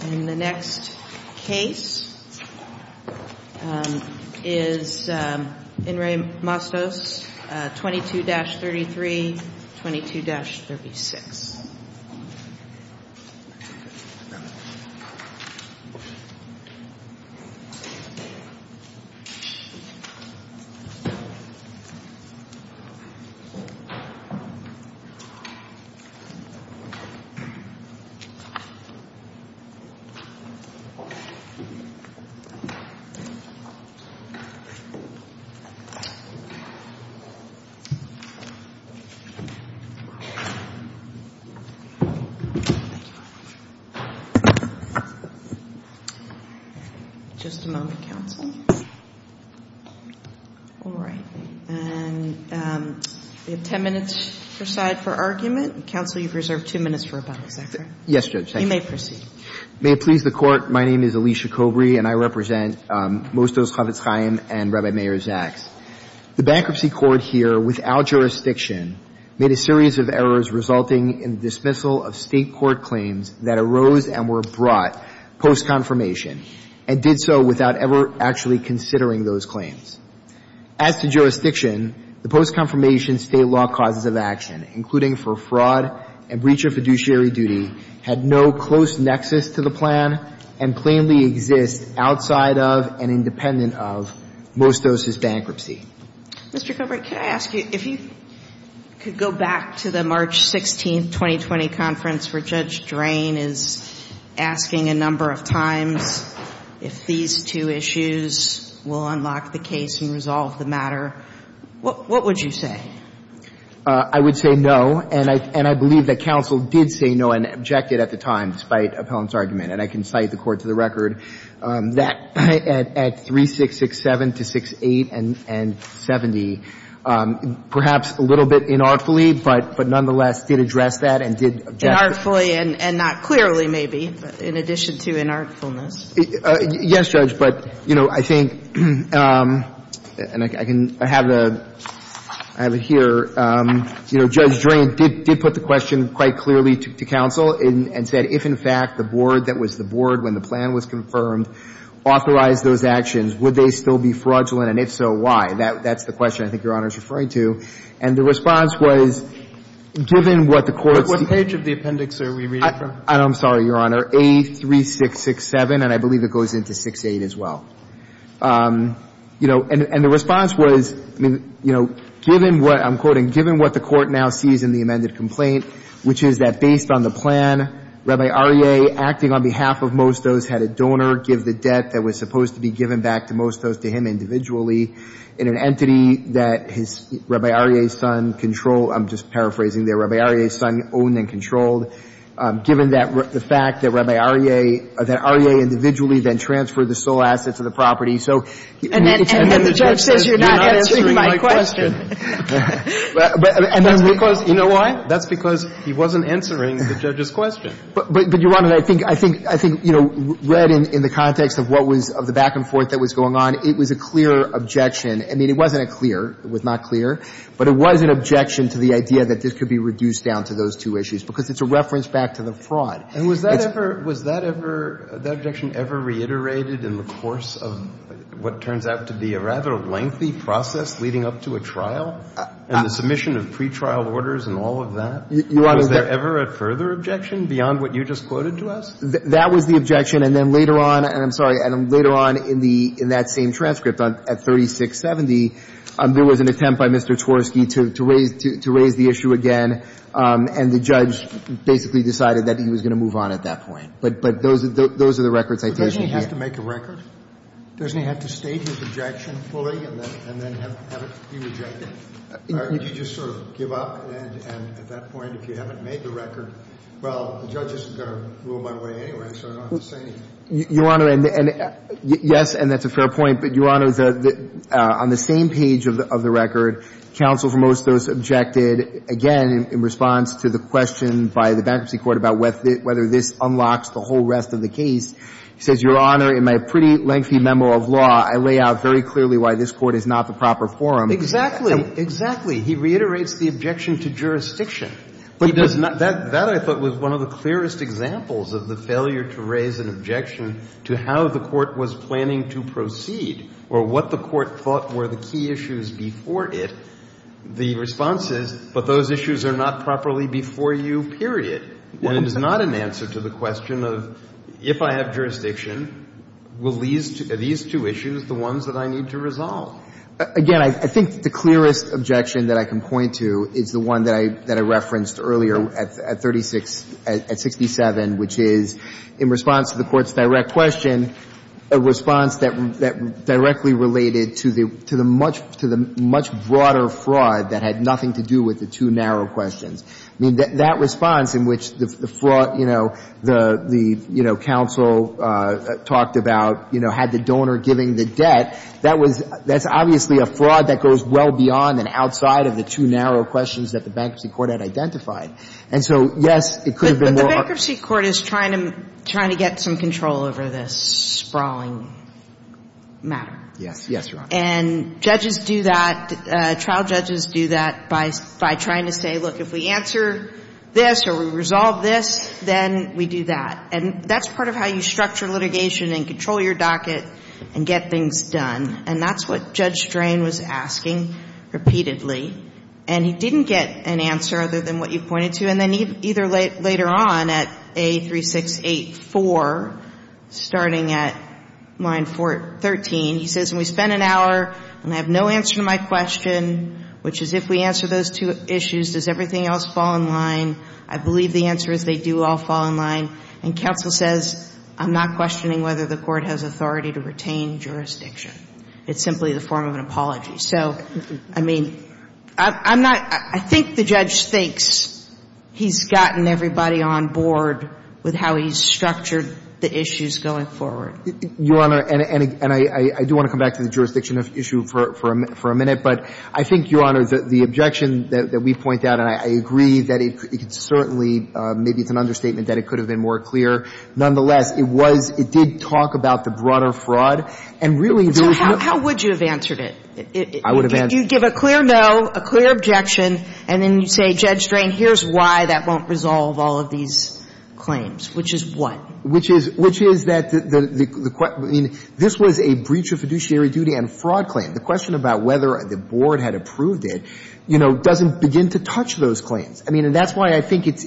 The next case is In Re. Mosdos 22-33, 22-36. Just a moment, counsel. All right. And we have 10 minutes per side for argument. Counsel, you've reserved two minutes for rebuttals. Is that correct? Thank you. You may proceed. May it please the Court, my name is Alicia Kobry, and I represent Mosdos Chofetz Chaim and Rebbe Meir Zaks. The Bankruptcy Court here, without jurisdiction, made a series of errors resulting in the dismissal of State court claims that arose and were brought post-confirmation and did so without ever actually considering those claims. As to jurisdiction, the post-confirmation State law causes of action, including for fraud and breach of fiduciary duty, had no close nexus to the plan and plainly exists outside of and independent of Mosdos' bankruptcy. Mr. Kobry, can I ask you, if you could go back to the March 16, 2020, conference where Judge Drain is asking a number of times if these two issues will unlock the case and resolve the matter, what would you say? I would say no. And I believe that counsel did say no and objected at the time, despite Appellant's argument. And I can cite the court to the record that at 3667 to 68 and 70, perhaps a little bit inartfully, but nonetheless did address that and did object. Inartfully and not clearly, maybe, in addition to inartfulness. Yes, Judge. But, you know, I think, and I have it here, you know, Judge Drain did put the question quite clearly to counsel and said, if, in fact, the board that was the board when the plan was confirmed authorized those actions, would they still be fraudulent and, if so, why? That's the question I think Your Honor is referring to. And the response was, given what the court's de- What page of the appendix are we reading from? I'm sorry, Your Honor. Page 4A, 3667. And I believe it goes into 68, as well. You know, and the response was, you know, given what I'm quoting, given what the Court now sees in the amended complaint, which is that based on the plan, Rabbi Arier, acting on behalf of Mostos, had a donor give the debt that was supposed to be given back to Mostos to him individually in an entity that Rabbi Arier's son controlled, I'm just paraphrasing there, Rabbi Arier's son owned and controlled. Given the fact that Rabbi Arier, that Arier individually then transferred the sole assets of the property. And then the judge says you're not answering my question. And that's because, you know why? That's because he wasn't answering the judge's question. But, Your Honor, I think, you know, read in the context of what was, of the back and forth that was going on, it was a clear objection. I mean, it wasn't a clear. It was not clear. But it was an objection to the idea that this could be reduced down to those two things. It was a reference back to the fraud. And was that ever, was that ever, that objection ever reiterated in the course of what turns out to be a rather lengthy process leading up to a trial? And the submission of pretrial orders and all of that? Was there ever a further objection beyond what you just quoted to us? That was the objection. And then later on, and I'm sorry, later on in the, in that same transcript at 3670, there was an attempt by Mr. Chworsky to raise the issue again. And the judge basically decided that he was going to move on at that point. But those are the records I take from here. But doesn't he have to make a record? Doesn't he have to state his objection fully and then have it be rejected? You just sort of give up and at that point, if you haven't made the record, well, the judge isn't going to rule my way anyway, so I don't have to say anything. Your Honor, and yes, and that's a fair point. But, Your Honor, on the same page of the record, counsel for most of those objected again in response to the question by the bankruptcy court about whether this unlocks the whole rest of the case. He says, Your Honor, in my pretty lengthy memo of law, I lay out very clearly why this Court is not the proper forum. Exactly. Exactly. He reiterates the objection to jurisdiction. But he does not. That, I thought, was one of the clearest examples of the failure to raise an objection to how the Court was planning to proceed or what the Court thought were the key issues before it. The response is, but those issues are not properly before you, period. And it is not an answer to the question of, if I have jurisdiction, will these two issues, the ones that I need to resolve? Again, I think the clearest objection that I can point to is the one that I referenced earlier at 36, at 67, which is, in response to the Court's direct question, a response that directly related to the much broader fraud that had nothing to do with the two narrow questions. I mean, that response in which the fraud, you know, the counsel talked about, you know, had the donor giving the debt, that's obviously a fraud that goes well beyond and outside of the two narrow questions that the bankruptcy court had identified. And so, yes, it could have been more. But the bankruptcy court is trying to get some control over this sprawling matter. Yes. Yes, Your Honor. And judges do that, trial judges do that by trying to say, look, if we answer this or we resolve this, then we do that. And that's part of how you structure litigation and control your docket and get things done. And that's what Judge Strain was asking repeatedly. And he didn't get an answer other than what you pointed to. And then either later on at A3684, starting at line 13, he says, and we spent an hour and I have no answer to my question, which is if we answer those two issues, does everything else fall in line? I believe the answer is they do all fall in line. And counsel says, I'm not questioning whether the Court has authority to retain jurisdiction. It's simply the form of an apology. So, I mean, I'm not – I think the judge thinks he's gotten everybody on board with how he's structured the issues going forward. Your Honor, and I do want to come back to the jurisdiction issue for a minute. But I think, Your Honor, the objection that we point out, and I agree that it's certainly – maybe it's an understatement that it could have been more clear. Nonetheless, it was – it did talk about the broader fraud. And really, there was no – How would you have answered it? I would have answered it. If you give a clear no, a clear objection, and then you say, Judge Drain, here's why that won't resolve all of these claims, which is what? Which is – which is that the – I mean, this was a breach of fiduciary duty and fraud claim. The question about whether the Board had approved it, you know, doesn't begin to touch those claims. I mean, and that's why I think it's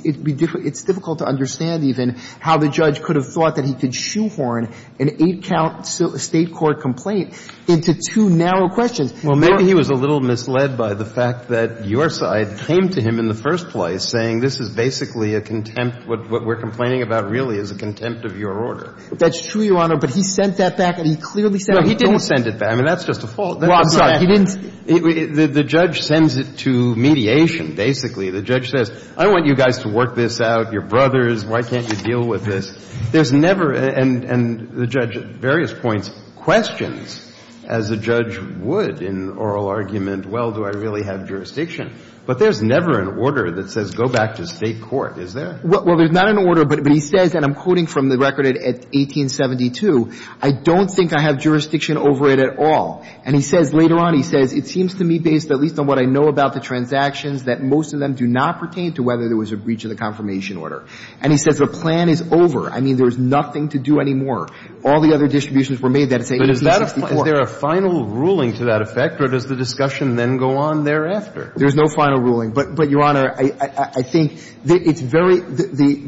difficult to understand even how the judge could have thought that he could shoehorn an eight-count State court complaint into two narrow questions. Well, maybe he was a little misled by the fact that your side came to him in the first place, saying this is basically a contempt – what we're complaining about really is a contempt of your order. That's true, Your Honor. But he sent that back, and he clearly sent it back. No, he didn't send it back. I mean, that's just a fault. I'm sorry. He didn't – The judge sends it to mediation, basically. The judge says, I want you guys to work this out, your brothers, why can't you deal with this? There's never – and the judge at various points questions, as a judge would in oral argument, well, do I really have jurisdiction? But there's never an order that says go back to State court, is there? Well, there's not an order, but he says, and I'm quoting from the record at 1872, I don't think I have jurisdiction over it at all. And he says later on, he says, it seems to me, based at least on what I know about the transactions, that most of them do not pertain to whether there was a breach of the confirmation order. And he says the plan is over. I mean, there's nothing to do anymore. All the other distributions were made that say 1864. But is there a final ruling to that effect, or does the discussion then go on thereafter? There's no final ruling. But, Your Honor, I think it's very – I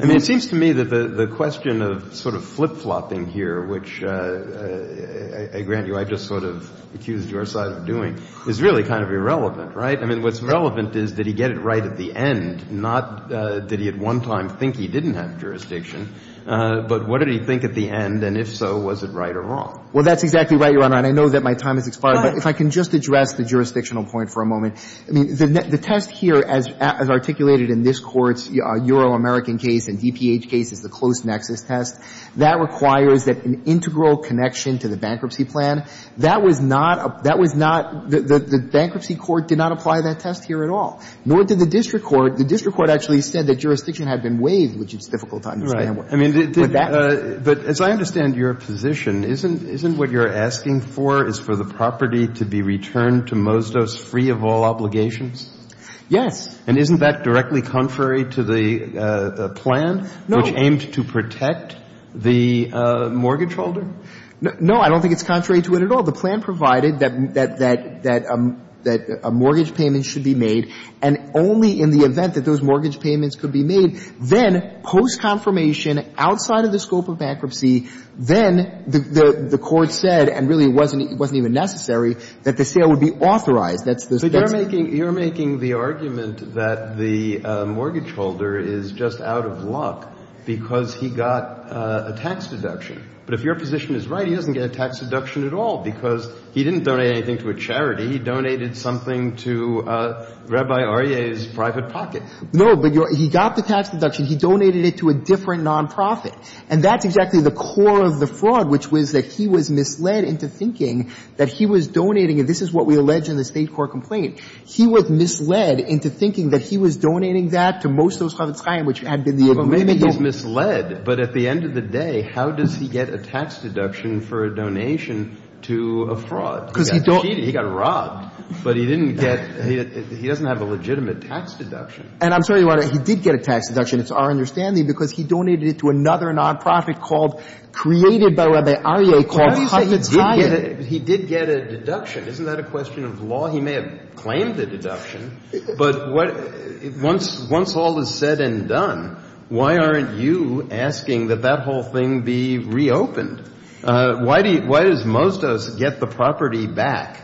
mean, it seems to me that the question of sort of flip-flopping here, which I grant you I just sort of accused your side of doing, is really kind of irrelevant, right? I mean, what's relevant is did he get it right at the end, not did he at one time think he didn't have jurisdiction. But what did he think at the end, and if so, was it right or wrong? Well, that's exactly right, Your Honor. And I know that my time has expired. Right. But if I can just address the jurisdictional point for a moment. I mean, the test here as articulated in this Court's Euro-American case and DPH case is the close nexus test. That requires that an integral connection to the bankruptcy plan, that was not – that was not – the bankruptcy court did not apply that test here at all, nor did the district court. The district court actually said that jurisdiction had been waived, which is difficult to understand. Right. I mean, but as I understand your position, isn't what you're asking for is for the property to be returned to Mosdos free of all obligations? Yes. And isn't that directly contrary to the plan, which aimed to protect the mortgage holder? No, I don't think it's contrary to it at all. The plan provided that a mortgage payment should be made, and only in the event that those mortgage payments could be made, then post-confirmation, outside of the scope of bankruptcy, then the Court said, and really it wasn't even necessary, that the sale would be authorized. That's the – But you're making the argument that the mortgage holder is just out of luck because he got a tax deduction. But if your position is right, he doesn't get a tax deduction at all because he didn't donate anything to a charity. He donated something to Rabbi Aryeh's private pocket. No, but you're – he got the tax deduction. He donated it to a different nonprofit. And that's exactly the core of the fraud, which was that he was misled into thinking that he was donating – and this is what we allege in the State Court complaint – he was misled into thinking that he was donating that to Mosdos Chavetz Chaim, which had been the – Well, maybe he's misled, but at the end of the day, how does he get a tax deduction for a donation to a fraud? Because he don't – He got cheated. He got robbed. But he didn't get – he doesn't have a legitimate tax deduction. And I'm sorry, Your Honor, he did get a tax deduction. It's our understanding because he donated it to another nonprofit called – created by Rabbi Aryeh called Chavetz Chaim. He did get a deduction. Isn't that a question of law? He may have claimed the deduction. But once all is said and done, why aren't you asking that that whole thing be reopened? Why does Mosdos get the property back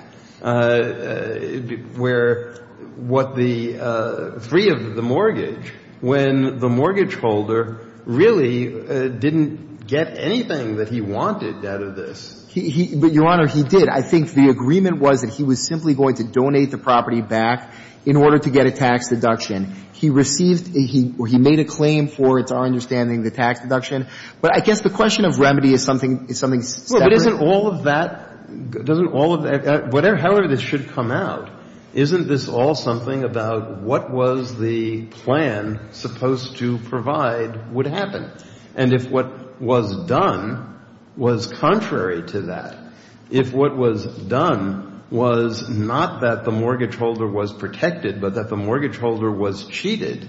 where – what the – free of the mortgage when the mortgage holder really didn't get anything that he wanted out of this? But, Your Honor, he did. And I think the agreement was that he was simply going to donate the property back in order to get a tax deduction. He received – he made a claim for, it's our understanding, the tax deduction. But I guess the question of remedy is something separate. Well, but isn't all of that – doesn't all of – however this should come out, isn't this all something about what was the plan supposed to provide would happen? And if what was done was contrary to that, if what was done was not that the mortgage holder was protected but that the mortgage holder was cheated,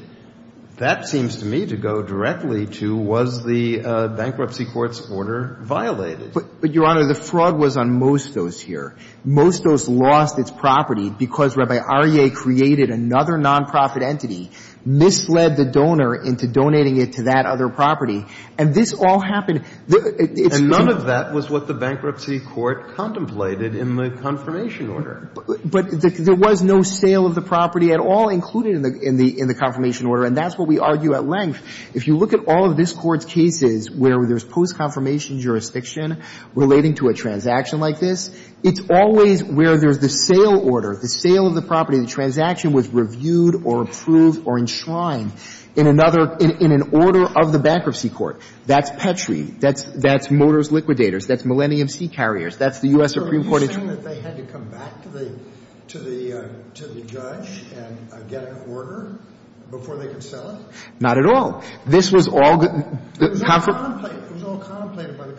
that seems to me to go directly to was the bankruptcy court's order violated? But, Your Honor, the frog was on Mosdos here. Mosdos lost its property because Rabbi Aryeh created another nonprofit entity, misled the donor into donating it to that other property. And this all happened – And none of that was what the bankruptcy court contemplated in the confirmation order. But there was no sale of the property at all included in the confirmation order. And that's what we argue at length. If you look at all of this court's cases where there's post-confirmation jurisdiction relating to a transaction like this, it's always where there's the sale order, the sale of the property, the transaction was reviewed or approved or enshrined in another – in an order of the bankruptcy court. That's Petri. That's Motors Liquidators. That's Millennium Sea Carriers. That's the U.S. Supreme Court. So are you saying that they had to come back to the – to the judge and get an order before they could sell it? Not at all. This was all – It was all contemplated by the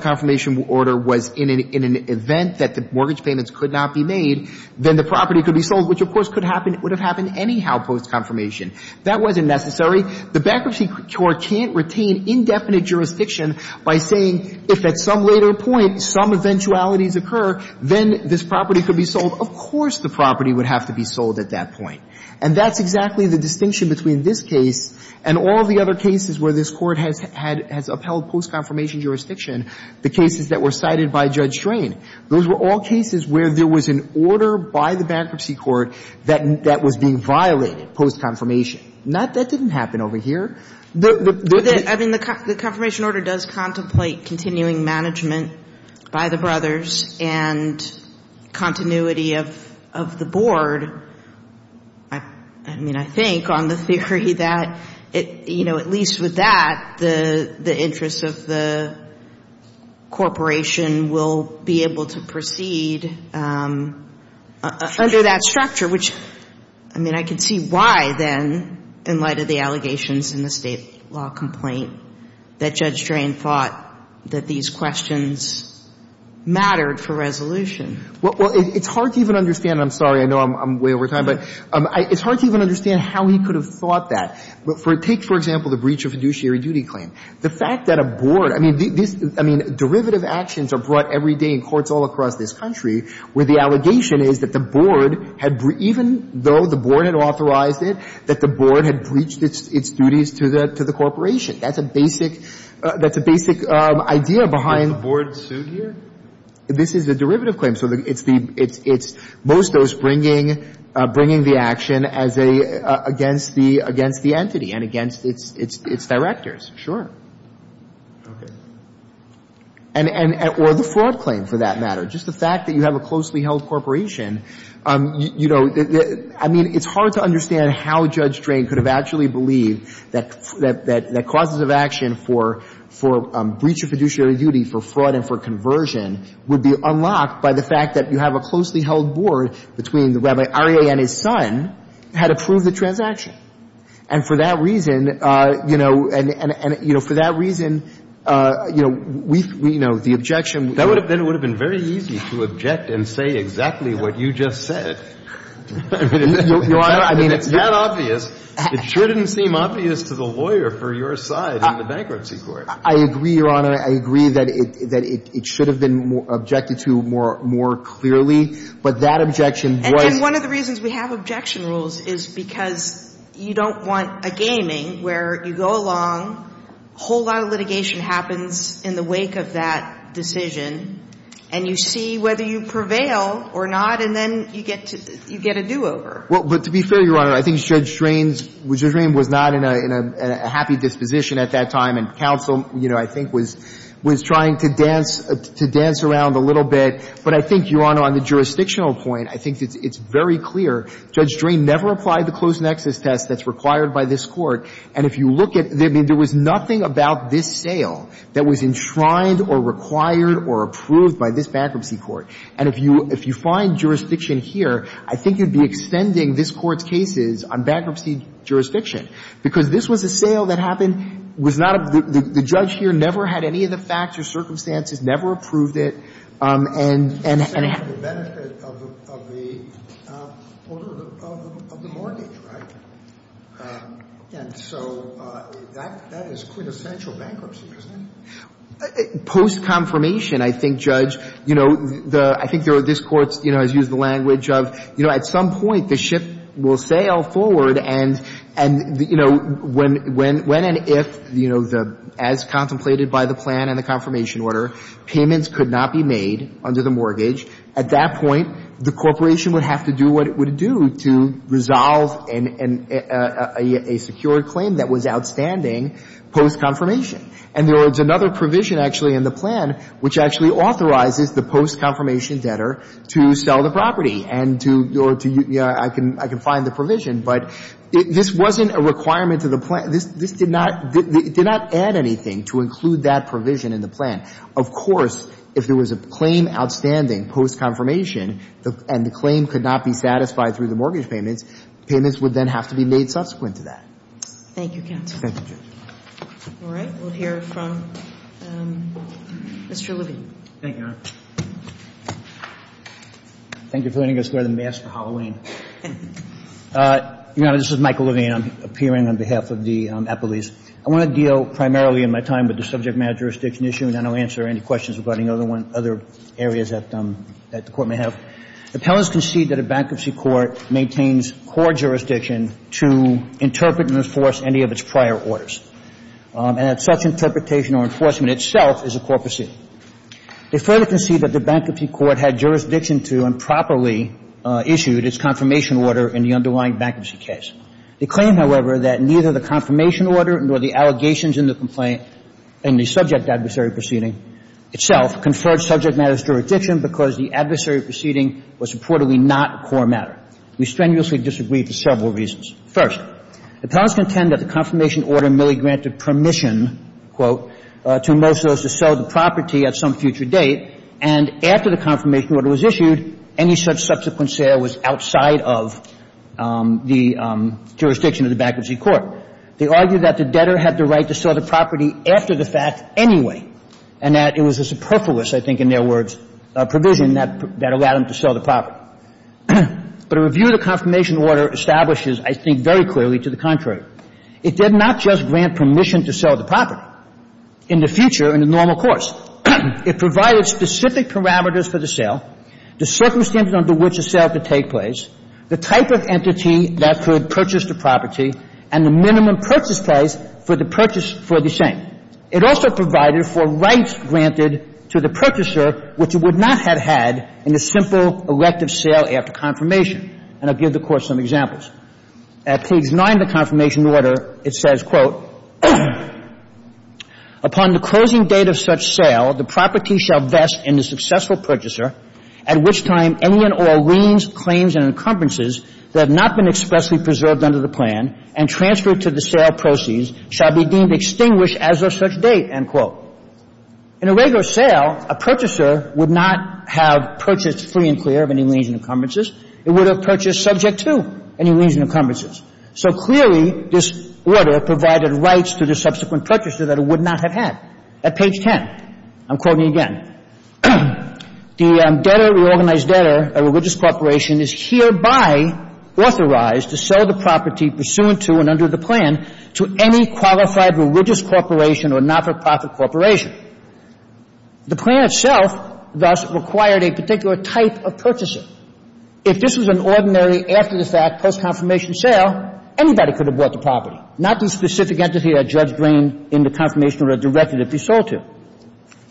confirmation order. was in an event that the mortgage payments could not be made, then the property could be sold, which of course could happen – would have happened anyhow post-confirmation. That wasn't necessary. The bankruptcy court can't retain indefinite jurisdiction by saying if at some later point some eventualities occur, then this property could be sold. Of course the property would have to be sold at that point. And that's exactly the distinction between this case and all the other cases where this court has had – has upheld post-confirmation jurisdiction. The cases that were cited by Judge Strain, those were all cases where there was an order by the bankruptcy court that was being violated post-confirmation. That didn't happen over here. I mean, the confirmation order does contemplate continuing management by the brothers and continuity of the board. I mean, I think on the theory that, you know, at least with that, the interests of the corporation will be able to proceed under that structure, which, I mean, I can see why then, in light of the allegations in the State law complaint, that Judge Strain thought that these questions mattered for resolution. Well, it's hard to even understand – and I'm sorry, I know I'm way over time – but it's hard to even understand how he could have thought that. But for – take, for example, the breach of fiduciary duty claim. The fact that a board – I mean, this – I mean, derivative actions are brought every day in courts all across this country where the allegation is that the board had – even though the board had authorized it, that the board had breached its duties to the corporation. That's a basic – that's a basic idea behind – Was the board sued here? This is a derivative claim. Most of those bringing the action as a – against the entity and against its directors, sure. Okay. And – or the fraud claim, for that matter. Just the fact that you have a closely held corporation, you know, I mean, it's hard to understand how Judge Strain could have actually believed that causes of action for breach of fiduciary duty for fraud and for conversion would be unlocked by the fact that you have a closely held board between the Rabbi Arieh and his son had approved the transaction. And for that reason, you know – and, you know, for that reason, you know, we – you know, the objection – That would have been – it would have been very easy to object and say exactly what you just said. Your Honor, I mean, it's not obvious. It shouldn't seem obvious to the lawyer for your side in the bankruptcy court. I agree, Your Honor. I agree that it – that it should have been objected to more – more clearly. But that objection was – And then one of the reasons we have objection rules is because you don't want a gaming where you go along, a whole lot of litigation happens in the wake of that decision, and you see whether you prevail or not, and then you get to – you get a do-over. Well, but to be fair, Your Honor, I think Judge Strain's – Judge Strain was not in a happy disposition at that time, and counsel, you know, I think was – was trying to dance – to dance around a little bit. But I think, Your Honor, on the jurisdictional point, I think it's very clear. Judge Strain never applied the close nexus test that's required by this Court. And if you look at – I mean, there was nothing about this sale that was enshrined or required or approved by this bankruptcy court. And if you – if you find jurisdiction here, I think you'd be extending this Court's jurisdiction. Because this was a sale that happened – was not a – the judge here never had any of the facts or circumstances, never approved it. And – The benefit of the order of the mortgage, right? And so that is quintessential bankruptcy, isn't it? Post-confirmation, I think, Judge, you know, the – I think this Court, you know, has And, you know, when – when and if, you know, the – as contemplated by the plan and the confirmation order, payments could not be made under the mortgage, at that point, the corporation would have to do what it would do to resolve an – a secure claim that was outstanding post-confirmation. And there was another provision, actually, in the plan, which actually authorizes the post-confirmation debtor to sell the property and to – or to – I can – I can find the provision, but this wasn't a requirement to the plan. This – this did not – did not add anything to include that provision in the plan. Of course, if there was a claim outstanding post-confirmation and the claim could not be satisfied through the mortgage payments, payments would then have to be made subsequent to that. Thank you, Counsel. Thank you, Judge. All right. We'll hear from Mr. Levine. Thank you, Your Honor. Thank you for letting us wear the mask for Halloween. Your Honor, this is Michael Levine. I'm appearing on behalf of the appellees. I want to deal primarily in my time with the subject matter jurisdiction issue, and then I'll answer any questions regarding other one – other areas that the Court may have. Appellants concede that a bankruptcy court maintains court jurisdiction to interpret and enforce any of its prior orders, and that such interpretation or enforcement itself is a court procedure. They further concede that the bankruptcy court had jurisdiction to and properly issued its confirmation order in the underlying bankruptcy case. They claim, however, that neither the confirmation order nor the allegations in the complaint in the subject adversary proceeding itself conferred subject matters jurisdiction because the adversary proceeding was reportedly not a core matter. We strenuously disagree for several reasons. First, appellants contend that the confirmation order merely granted permission, quote, to most of those to sell the property at some future date, and after the subsequent sale was outside of the jurisdiction of the bankruptcy court. They argue that the debtor had the right to sell the property after the fact anyway and that it was a superfluous, I think in their words, provision that allowed them to sell the property. But a review of the confirmation order establishes, I think very clearly, to the contrary. It did not just grant permission to sell the property in the future in the normal course. It provided specific parameters for the sale, the circumstances under which a sale could take place, the type of entity that could purchase the property, and the minimum purchase price for the purchase for the same. It also provided for rights granted to the purchaser, which it would not have had in the simple elective sale after confirmation. And I'll give the Court some examples. At page 9 of the confirmation order, it says, quote, Upon the closing date of such sale, the property shall vest in the successful purchaser, at which time any and all liens, claims, and encumbrances that have not been expressly preserved under the plan and transferred to the sale proceeds shall be deemed extinguished as of such date, end quote. In a regular sale, a purchaser would not have purchased free and clear of any liens and encumbrances. It would have purchased subject to any liens and encumbrances. So clearly, this order provided rights to the subsequent purchaser that it would not have had. At page 10, I'm quoting again, The debtor, the organized debtor, a religious corporation, is hereby authorized to sell the property pursuant to and under the plan to any qualified religious corporation or not-for-profit corporation. The plan itself thus required a particular type of purchasing. If this was an ordinary, after-the-fact, post-confirmation sale, anybody could have bought the property, not the specific entity that Judge Green in the confirmation order directed it be sold to.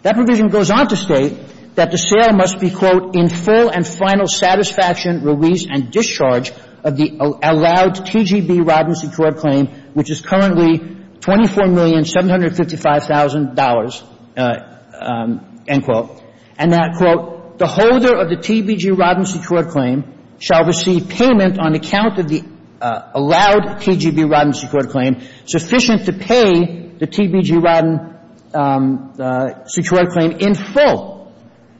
That provision goes on to state that the sale must be, quote, In full and final satisfaction, release, and discharge of the allowed TGB rodency court claim, which is currently $24,755,000, end quote. And that, quote, The holder of the TBG rodency court claim shall receive payment on account of the allowed TGB rodency court claim sufficient to pay the TBG rodency court claim in full.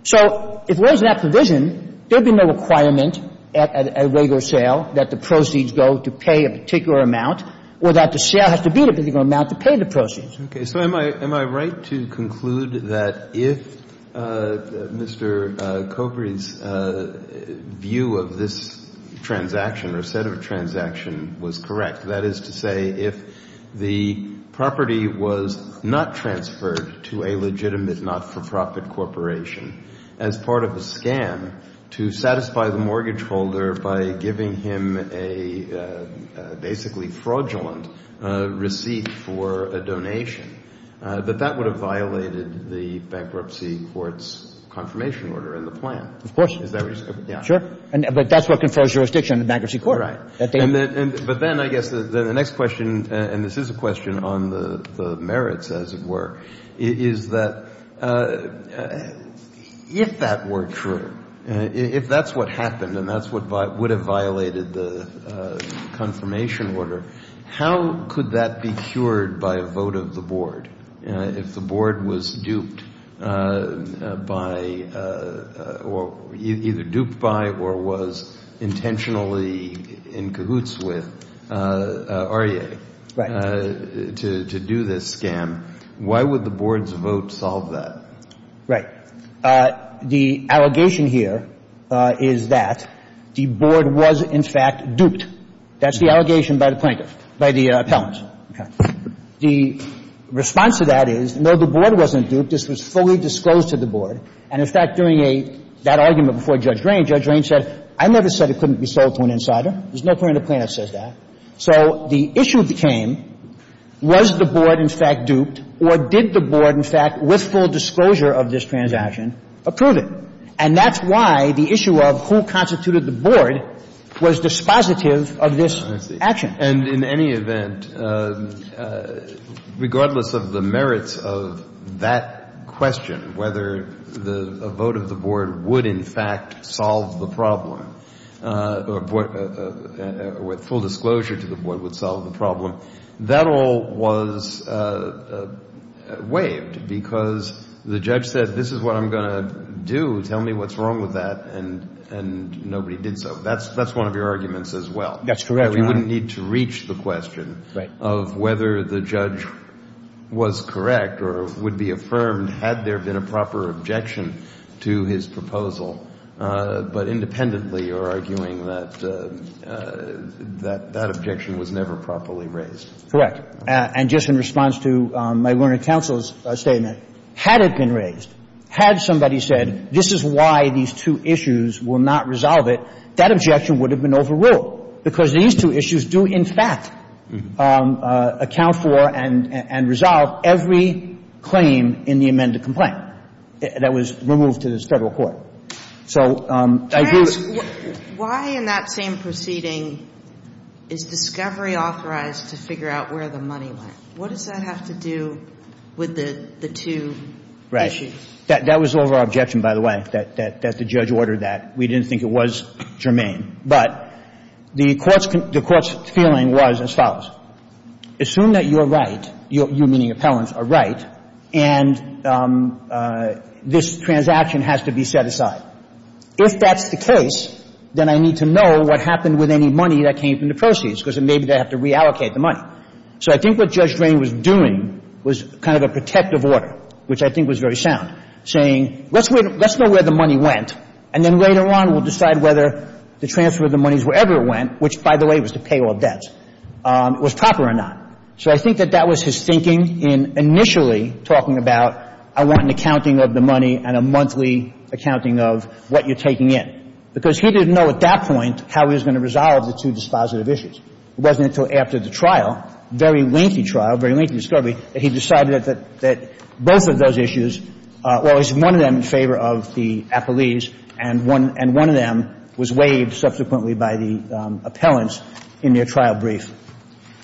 So if there is that provision, there would be no requirement at a regular sale that the proceeds go to pay a particular amount or that the sale has to be a particular amount to pay the proceeds. Okay. So am I right to conclude that if Mr. Kobry's view of this transaction or set of transaction was correct, that is to say, if the property was not transferred to a legitimate not-for-profit corporation as part of a scam to satisfy the mortgage holder by giving him a basically fraudulent receipt for a donation, that that would have violated the bankruptcy court's confirmation order in the plan? Of course. Is that what you're saying? Sure. But that's what confers jurisdiction on the bankruptcy court. Right. But then I guess the next question, and this is a question on the merits, as it were, is that if that were true, if that's what happened and that's what would have violated the confirmation order, how could that be cured by a vote of the board if the board was duped by or either duped by or was intentionally in cahoots with Aryeh to do this scam Why would the board's vote solve that? Right. The allegation here is that the board was, in fact, duped. That's the allegation by the plaintiff, by the appellant. Okay. The response to that is, no, the board wasn't duped. This was fully disclosed to the board. And, in fact, during a – that argument before Judge Drain, Judge Drain said, I never said it couldn't be sold to an insider. There's no point in the plaintiff says that. So the issue became, was the board, in fact, duped, or did the board, in fact, with full disclosure of this transaction, approve it? And that's why the issue of who constituted the board was dispositive of this action. And in any event, regardless of the merits of that question, whether the vote of the That all was waived because the judge said, this is what I'm going to do. Tell me what's wrong with that. And nobody did so. That's one of your arguments as well. That's correct, Your Honor. We wouldn't need to reach the question of whether the judge was correct or would be affirmed had there been a proper objection to his proposal. But independently you're arguing that that objection was never properly raised. Correct. And just in response to my learned counsel's statement, had it been raised, had somebody said, this is why these two issues will not resolve it, that objection would have been overruled because these two issues do, in fact, account for and resolve every claim in the amended complaint that was removed to this Federal court. So I do... Judge, why in that same proceeding is discovery authorized to figure out where the money went? What does that have to do with the two issues? Right. That was our objection, by the way, that the judge ordered that. We didn't think it was germane. But the Court's feeling was as follows. Assume that you're right, you meaning appellants, are right, and this transaction has to be set aside. If that's the case, then I need to know what happened with any money that came from the proceeds because maybe they have to reallocate the money. So I think what Judge Drain was doing was kind of a protective order, which I think was very sound, saying, let's know where the money went, and then later on we'll decide whether to transfer the monies wherever it went, which, by the way, was to pay all debts, was proper or not. So I think that that was his thinking in initially talking about, I want an accounting of the money and a monthly accounting of what you're taking in. Because he didn't know at that point how he was going to resolve the two dispositive issues. It wasn't until after the trial, very lengthy trial, very lengthy discovery, that he decided that both of those issues, well, it was one of them in favor of the appellees and one of them was waived subsequently by the appellants in their trial brief.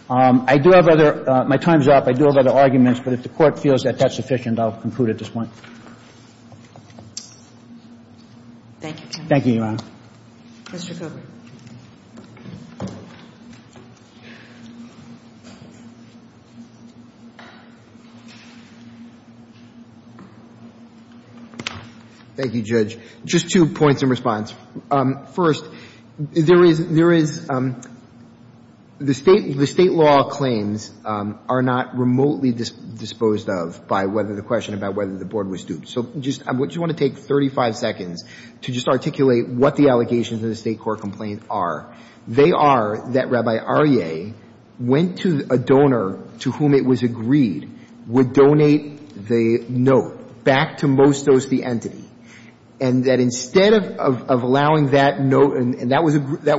I do have other – my time is up. I do have other arguments, but if the Court feels that that's sufficient, I'll conclude at this point. Thank you, counsel. Thank you, Your Honor. Mr. Cooper. Thank you, Judge. Just two points in response. First, there is – there is – the State – the State law claims are not remotely disposed of by whether the question about whether the Board was duped. So just – I just want to take 35 seconds to just articulate what the allegations of the State court complaint are. They are that Rabbi Aryeh went to a donor to whom it was agreed would donate the note back to Mostos, the entity, and that instead of allowing that note – and that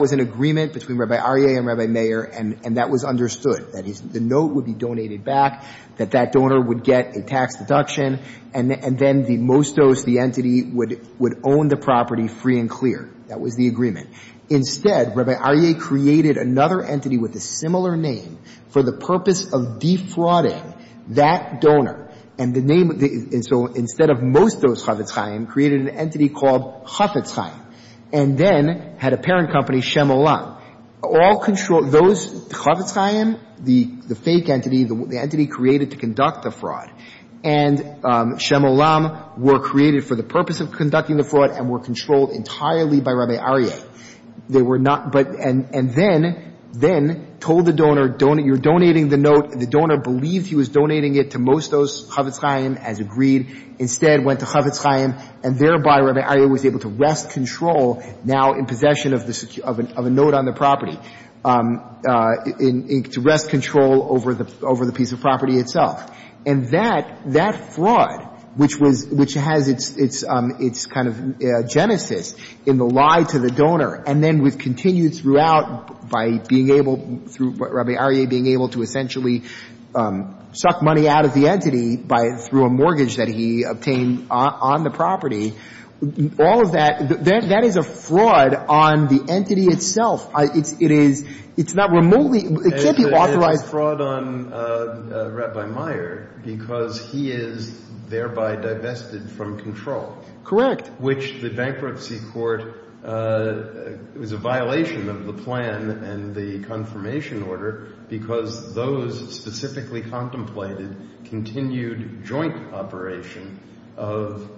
was an agreement between Rabbi Aryeh and Rabbi Mayer, and that was understood, that the note would be donated back, that that donor would get a tax deduction, and then the Mostos, the entity, would own the property free and clear. That was the agreement. Instead, Rabbi Aryeh created another entity with a similar name for the purpose of defrauding that donor. And the name – and so instead of Mostos Chafetz Chaim created an entity called Chafetz Chaim and then had a parent company, Shem Olam. All control – those – Chafetz Chaim, the fake entity, the entity created to conduct the fraud, and Shem Olam were created for the purpose of conducting the fraud and were controlled entirely by Rabbi Aryeh. They were not – but – and then told the donor, you're donating the note, the donor believed he was donating it to Mostos Chafetz Chaim as agreed, instead went to Chafetz Chaim, and thereby Rabbi Aryeh was able to wrest control now in possession of the – of a note on the property, to wrest control over the – over the piece of property itself. And that – that fraud, which was – which has its – its kind of genesis in the lie to the donor and then was continued throughout by being able – through Rabbi Aryeh being able to essentially suck money out of the entity by – through a mortgage that he obtained on the property. All of that – that is a fraud on the entity itself. It's – it is – it's not remotely – it can't be authorized. It's a fraud on Rabbi Meier because he is thereby divested from control. Correct. Which the bankruptcy court – it was a violation of the plan and the confirmation order because those specifically contemplated continued joint operation of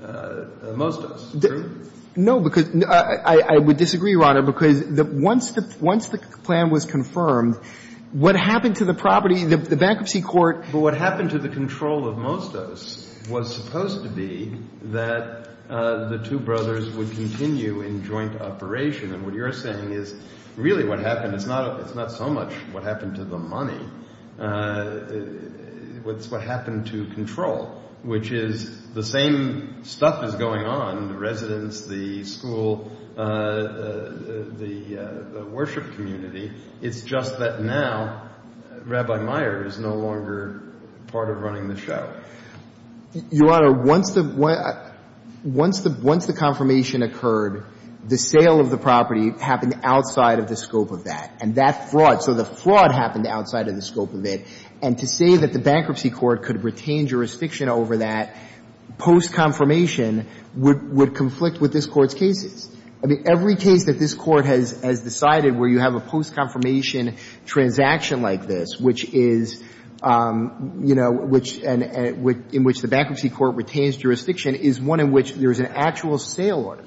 Mostos. True? No, because – I would disagree, Your Honor, because once the – once the plan was confirmed, what happened to the property, the bankruptcy court – But what happened to the control of Mostos was supposed to be that the two brothers would continue in joint operation. And what you're saying is really what happened – it's not – it's not so much what happened to the money. It's what happened to control, which is the same stuff is going on, the residents, the school, the worship community. It's just that now Rabbi Meier is no longer part of running the show. Your Honor, once the – once the confirmation occurred, the sale of the property happened outside of the scope of that. And that fraud – so the fraud happened outside of the scope of it. And to say that the bankruptcy court could retain jurisdiction over that post-confirmation would conflict with this Court's cases. I mean, every case that this Court has decided where you have a post-confirmation transaction like this, which is – you know, which – in which the bankruptcy court retains jurisdiction is one in which there is an actual sale order.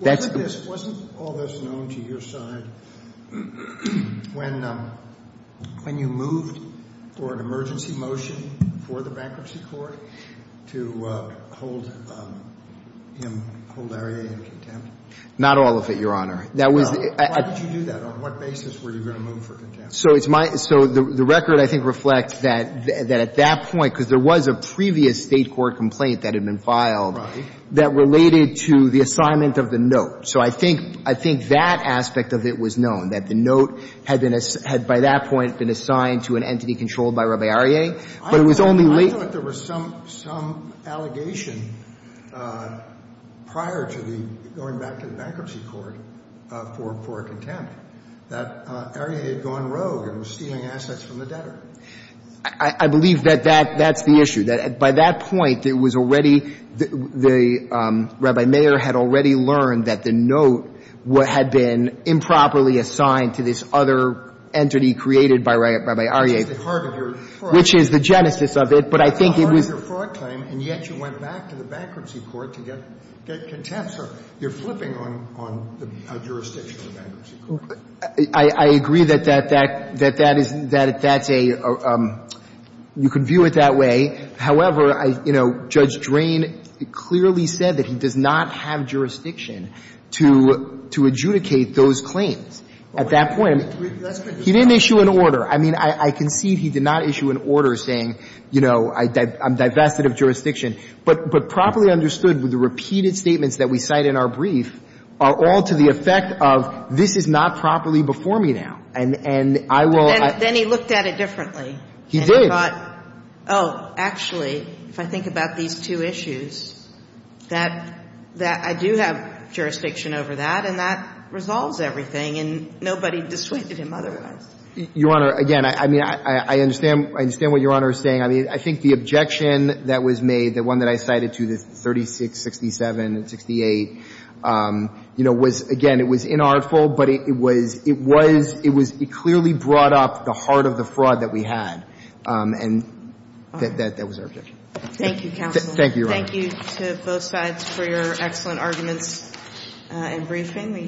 Wasn't all this known to your side when you moved for an emergency motion for the Not all of it, Your Honor. Why did you do that? On what basis were you going to move for contempt? So it's my – so the record, I think, reflects that at that point, because there was a previous State court complaint that had been filed that related to the assignment of the note. So I think – I think that aspect of it was known, that the note had been – had by that point been assigned to an entity controlled by Rabbi Arieh, but it was only late I thought there was some – some allegation prior to the – going back to the bankruptcy court for contempt that Arieh had gone rogue and was stealing assets from the debtor. I believe that that's the issue, that by that point, it was already – the – Rabbi Mayer had already learned that the note had been improperly assigned to this other entity created by Rabbi Arieh. That's the heart of your question. Which is the genesis of it. But I think it was – That's the heart of your fraud claim, and yet you went back to the bankruptcy court to get contempt. So you're flipping on – on the jurisdiction of the bankruptcy court. I agree that that – that that is – that that's a – you can view it that way. However, I – you know, Judge Drain clearly said that he does not have jurisdiction to – to adjudicate those claims at that point. He didn't issue an order. I mean, I – I concede he did not issue an order saying, you know, I – I'm divested of jurisdiction. But – but properly understood with the repeated statements that we cite in our brief are all to the effect of this is not properly before me now. And – and I will – But then – then he looked at it differently. He did. And he thought, oh, actually, if I think about these two issues, that – that I do have jurisdiction over that, and that resolves everything, and nobody dissuaded him otherwise. Your Honor, again, I – I mean, I – I understand – I understand what Your Honor is saying. I mean, I think the objection that was made, the one that I cited to the 36, 67, and 68, you know, was – again, it was inartful, but it was – it was – it was – it clearly brought up the heart of the fraud that we had. And that – that was our objection. Thank you, counsel. Thank you, Your Honor. Thank you to both sides for your excellent arguments and briefing.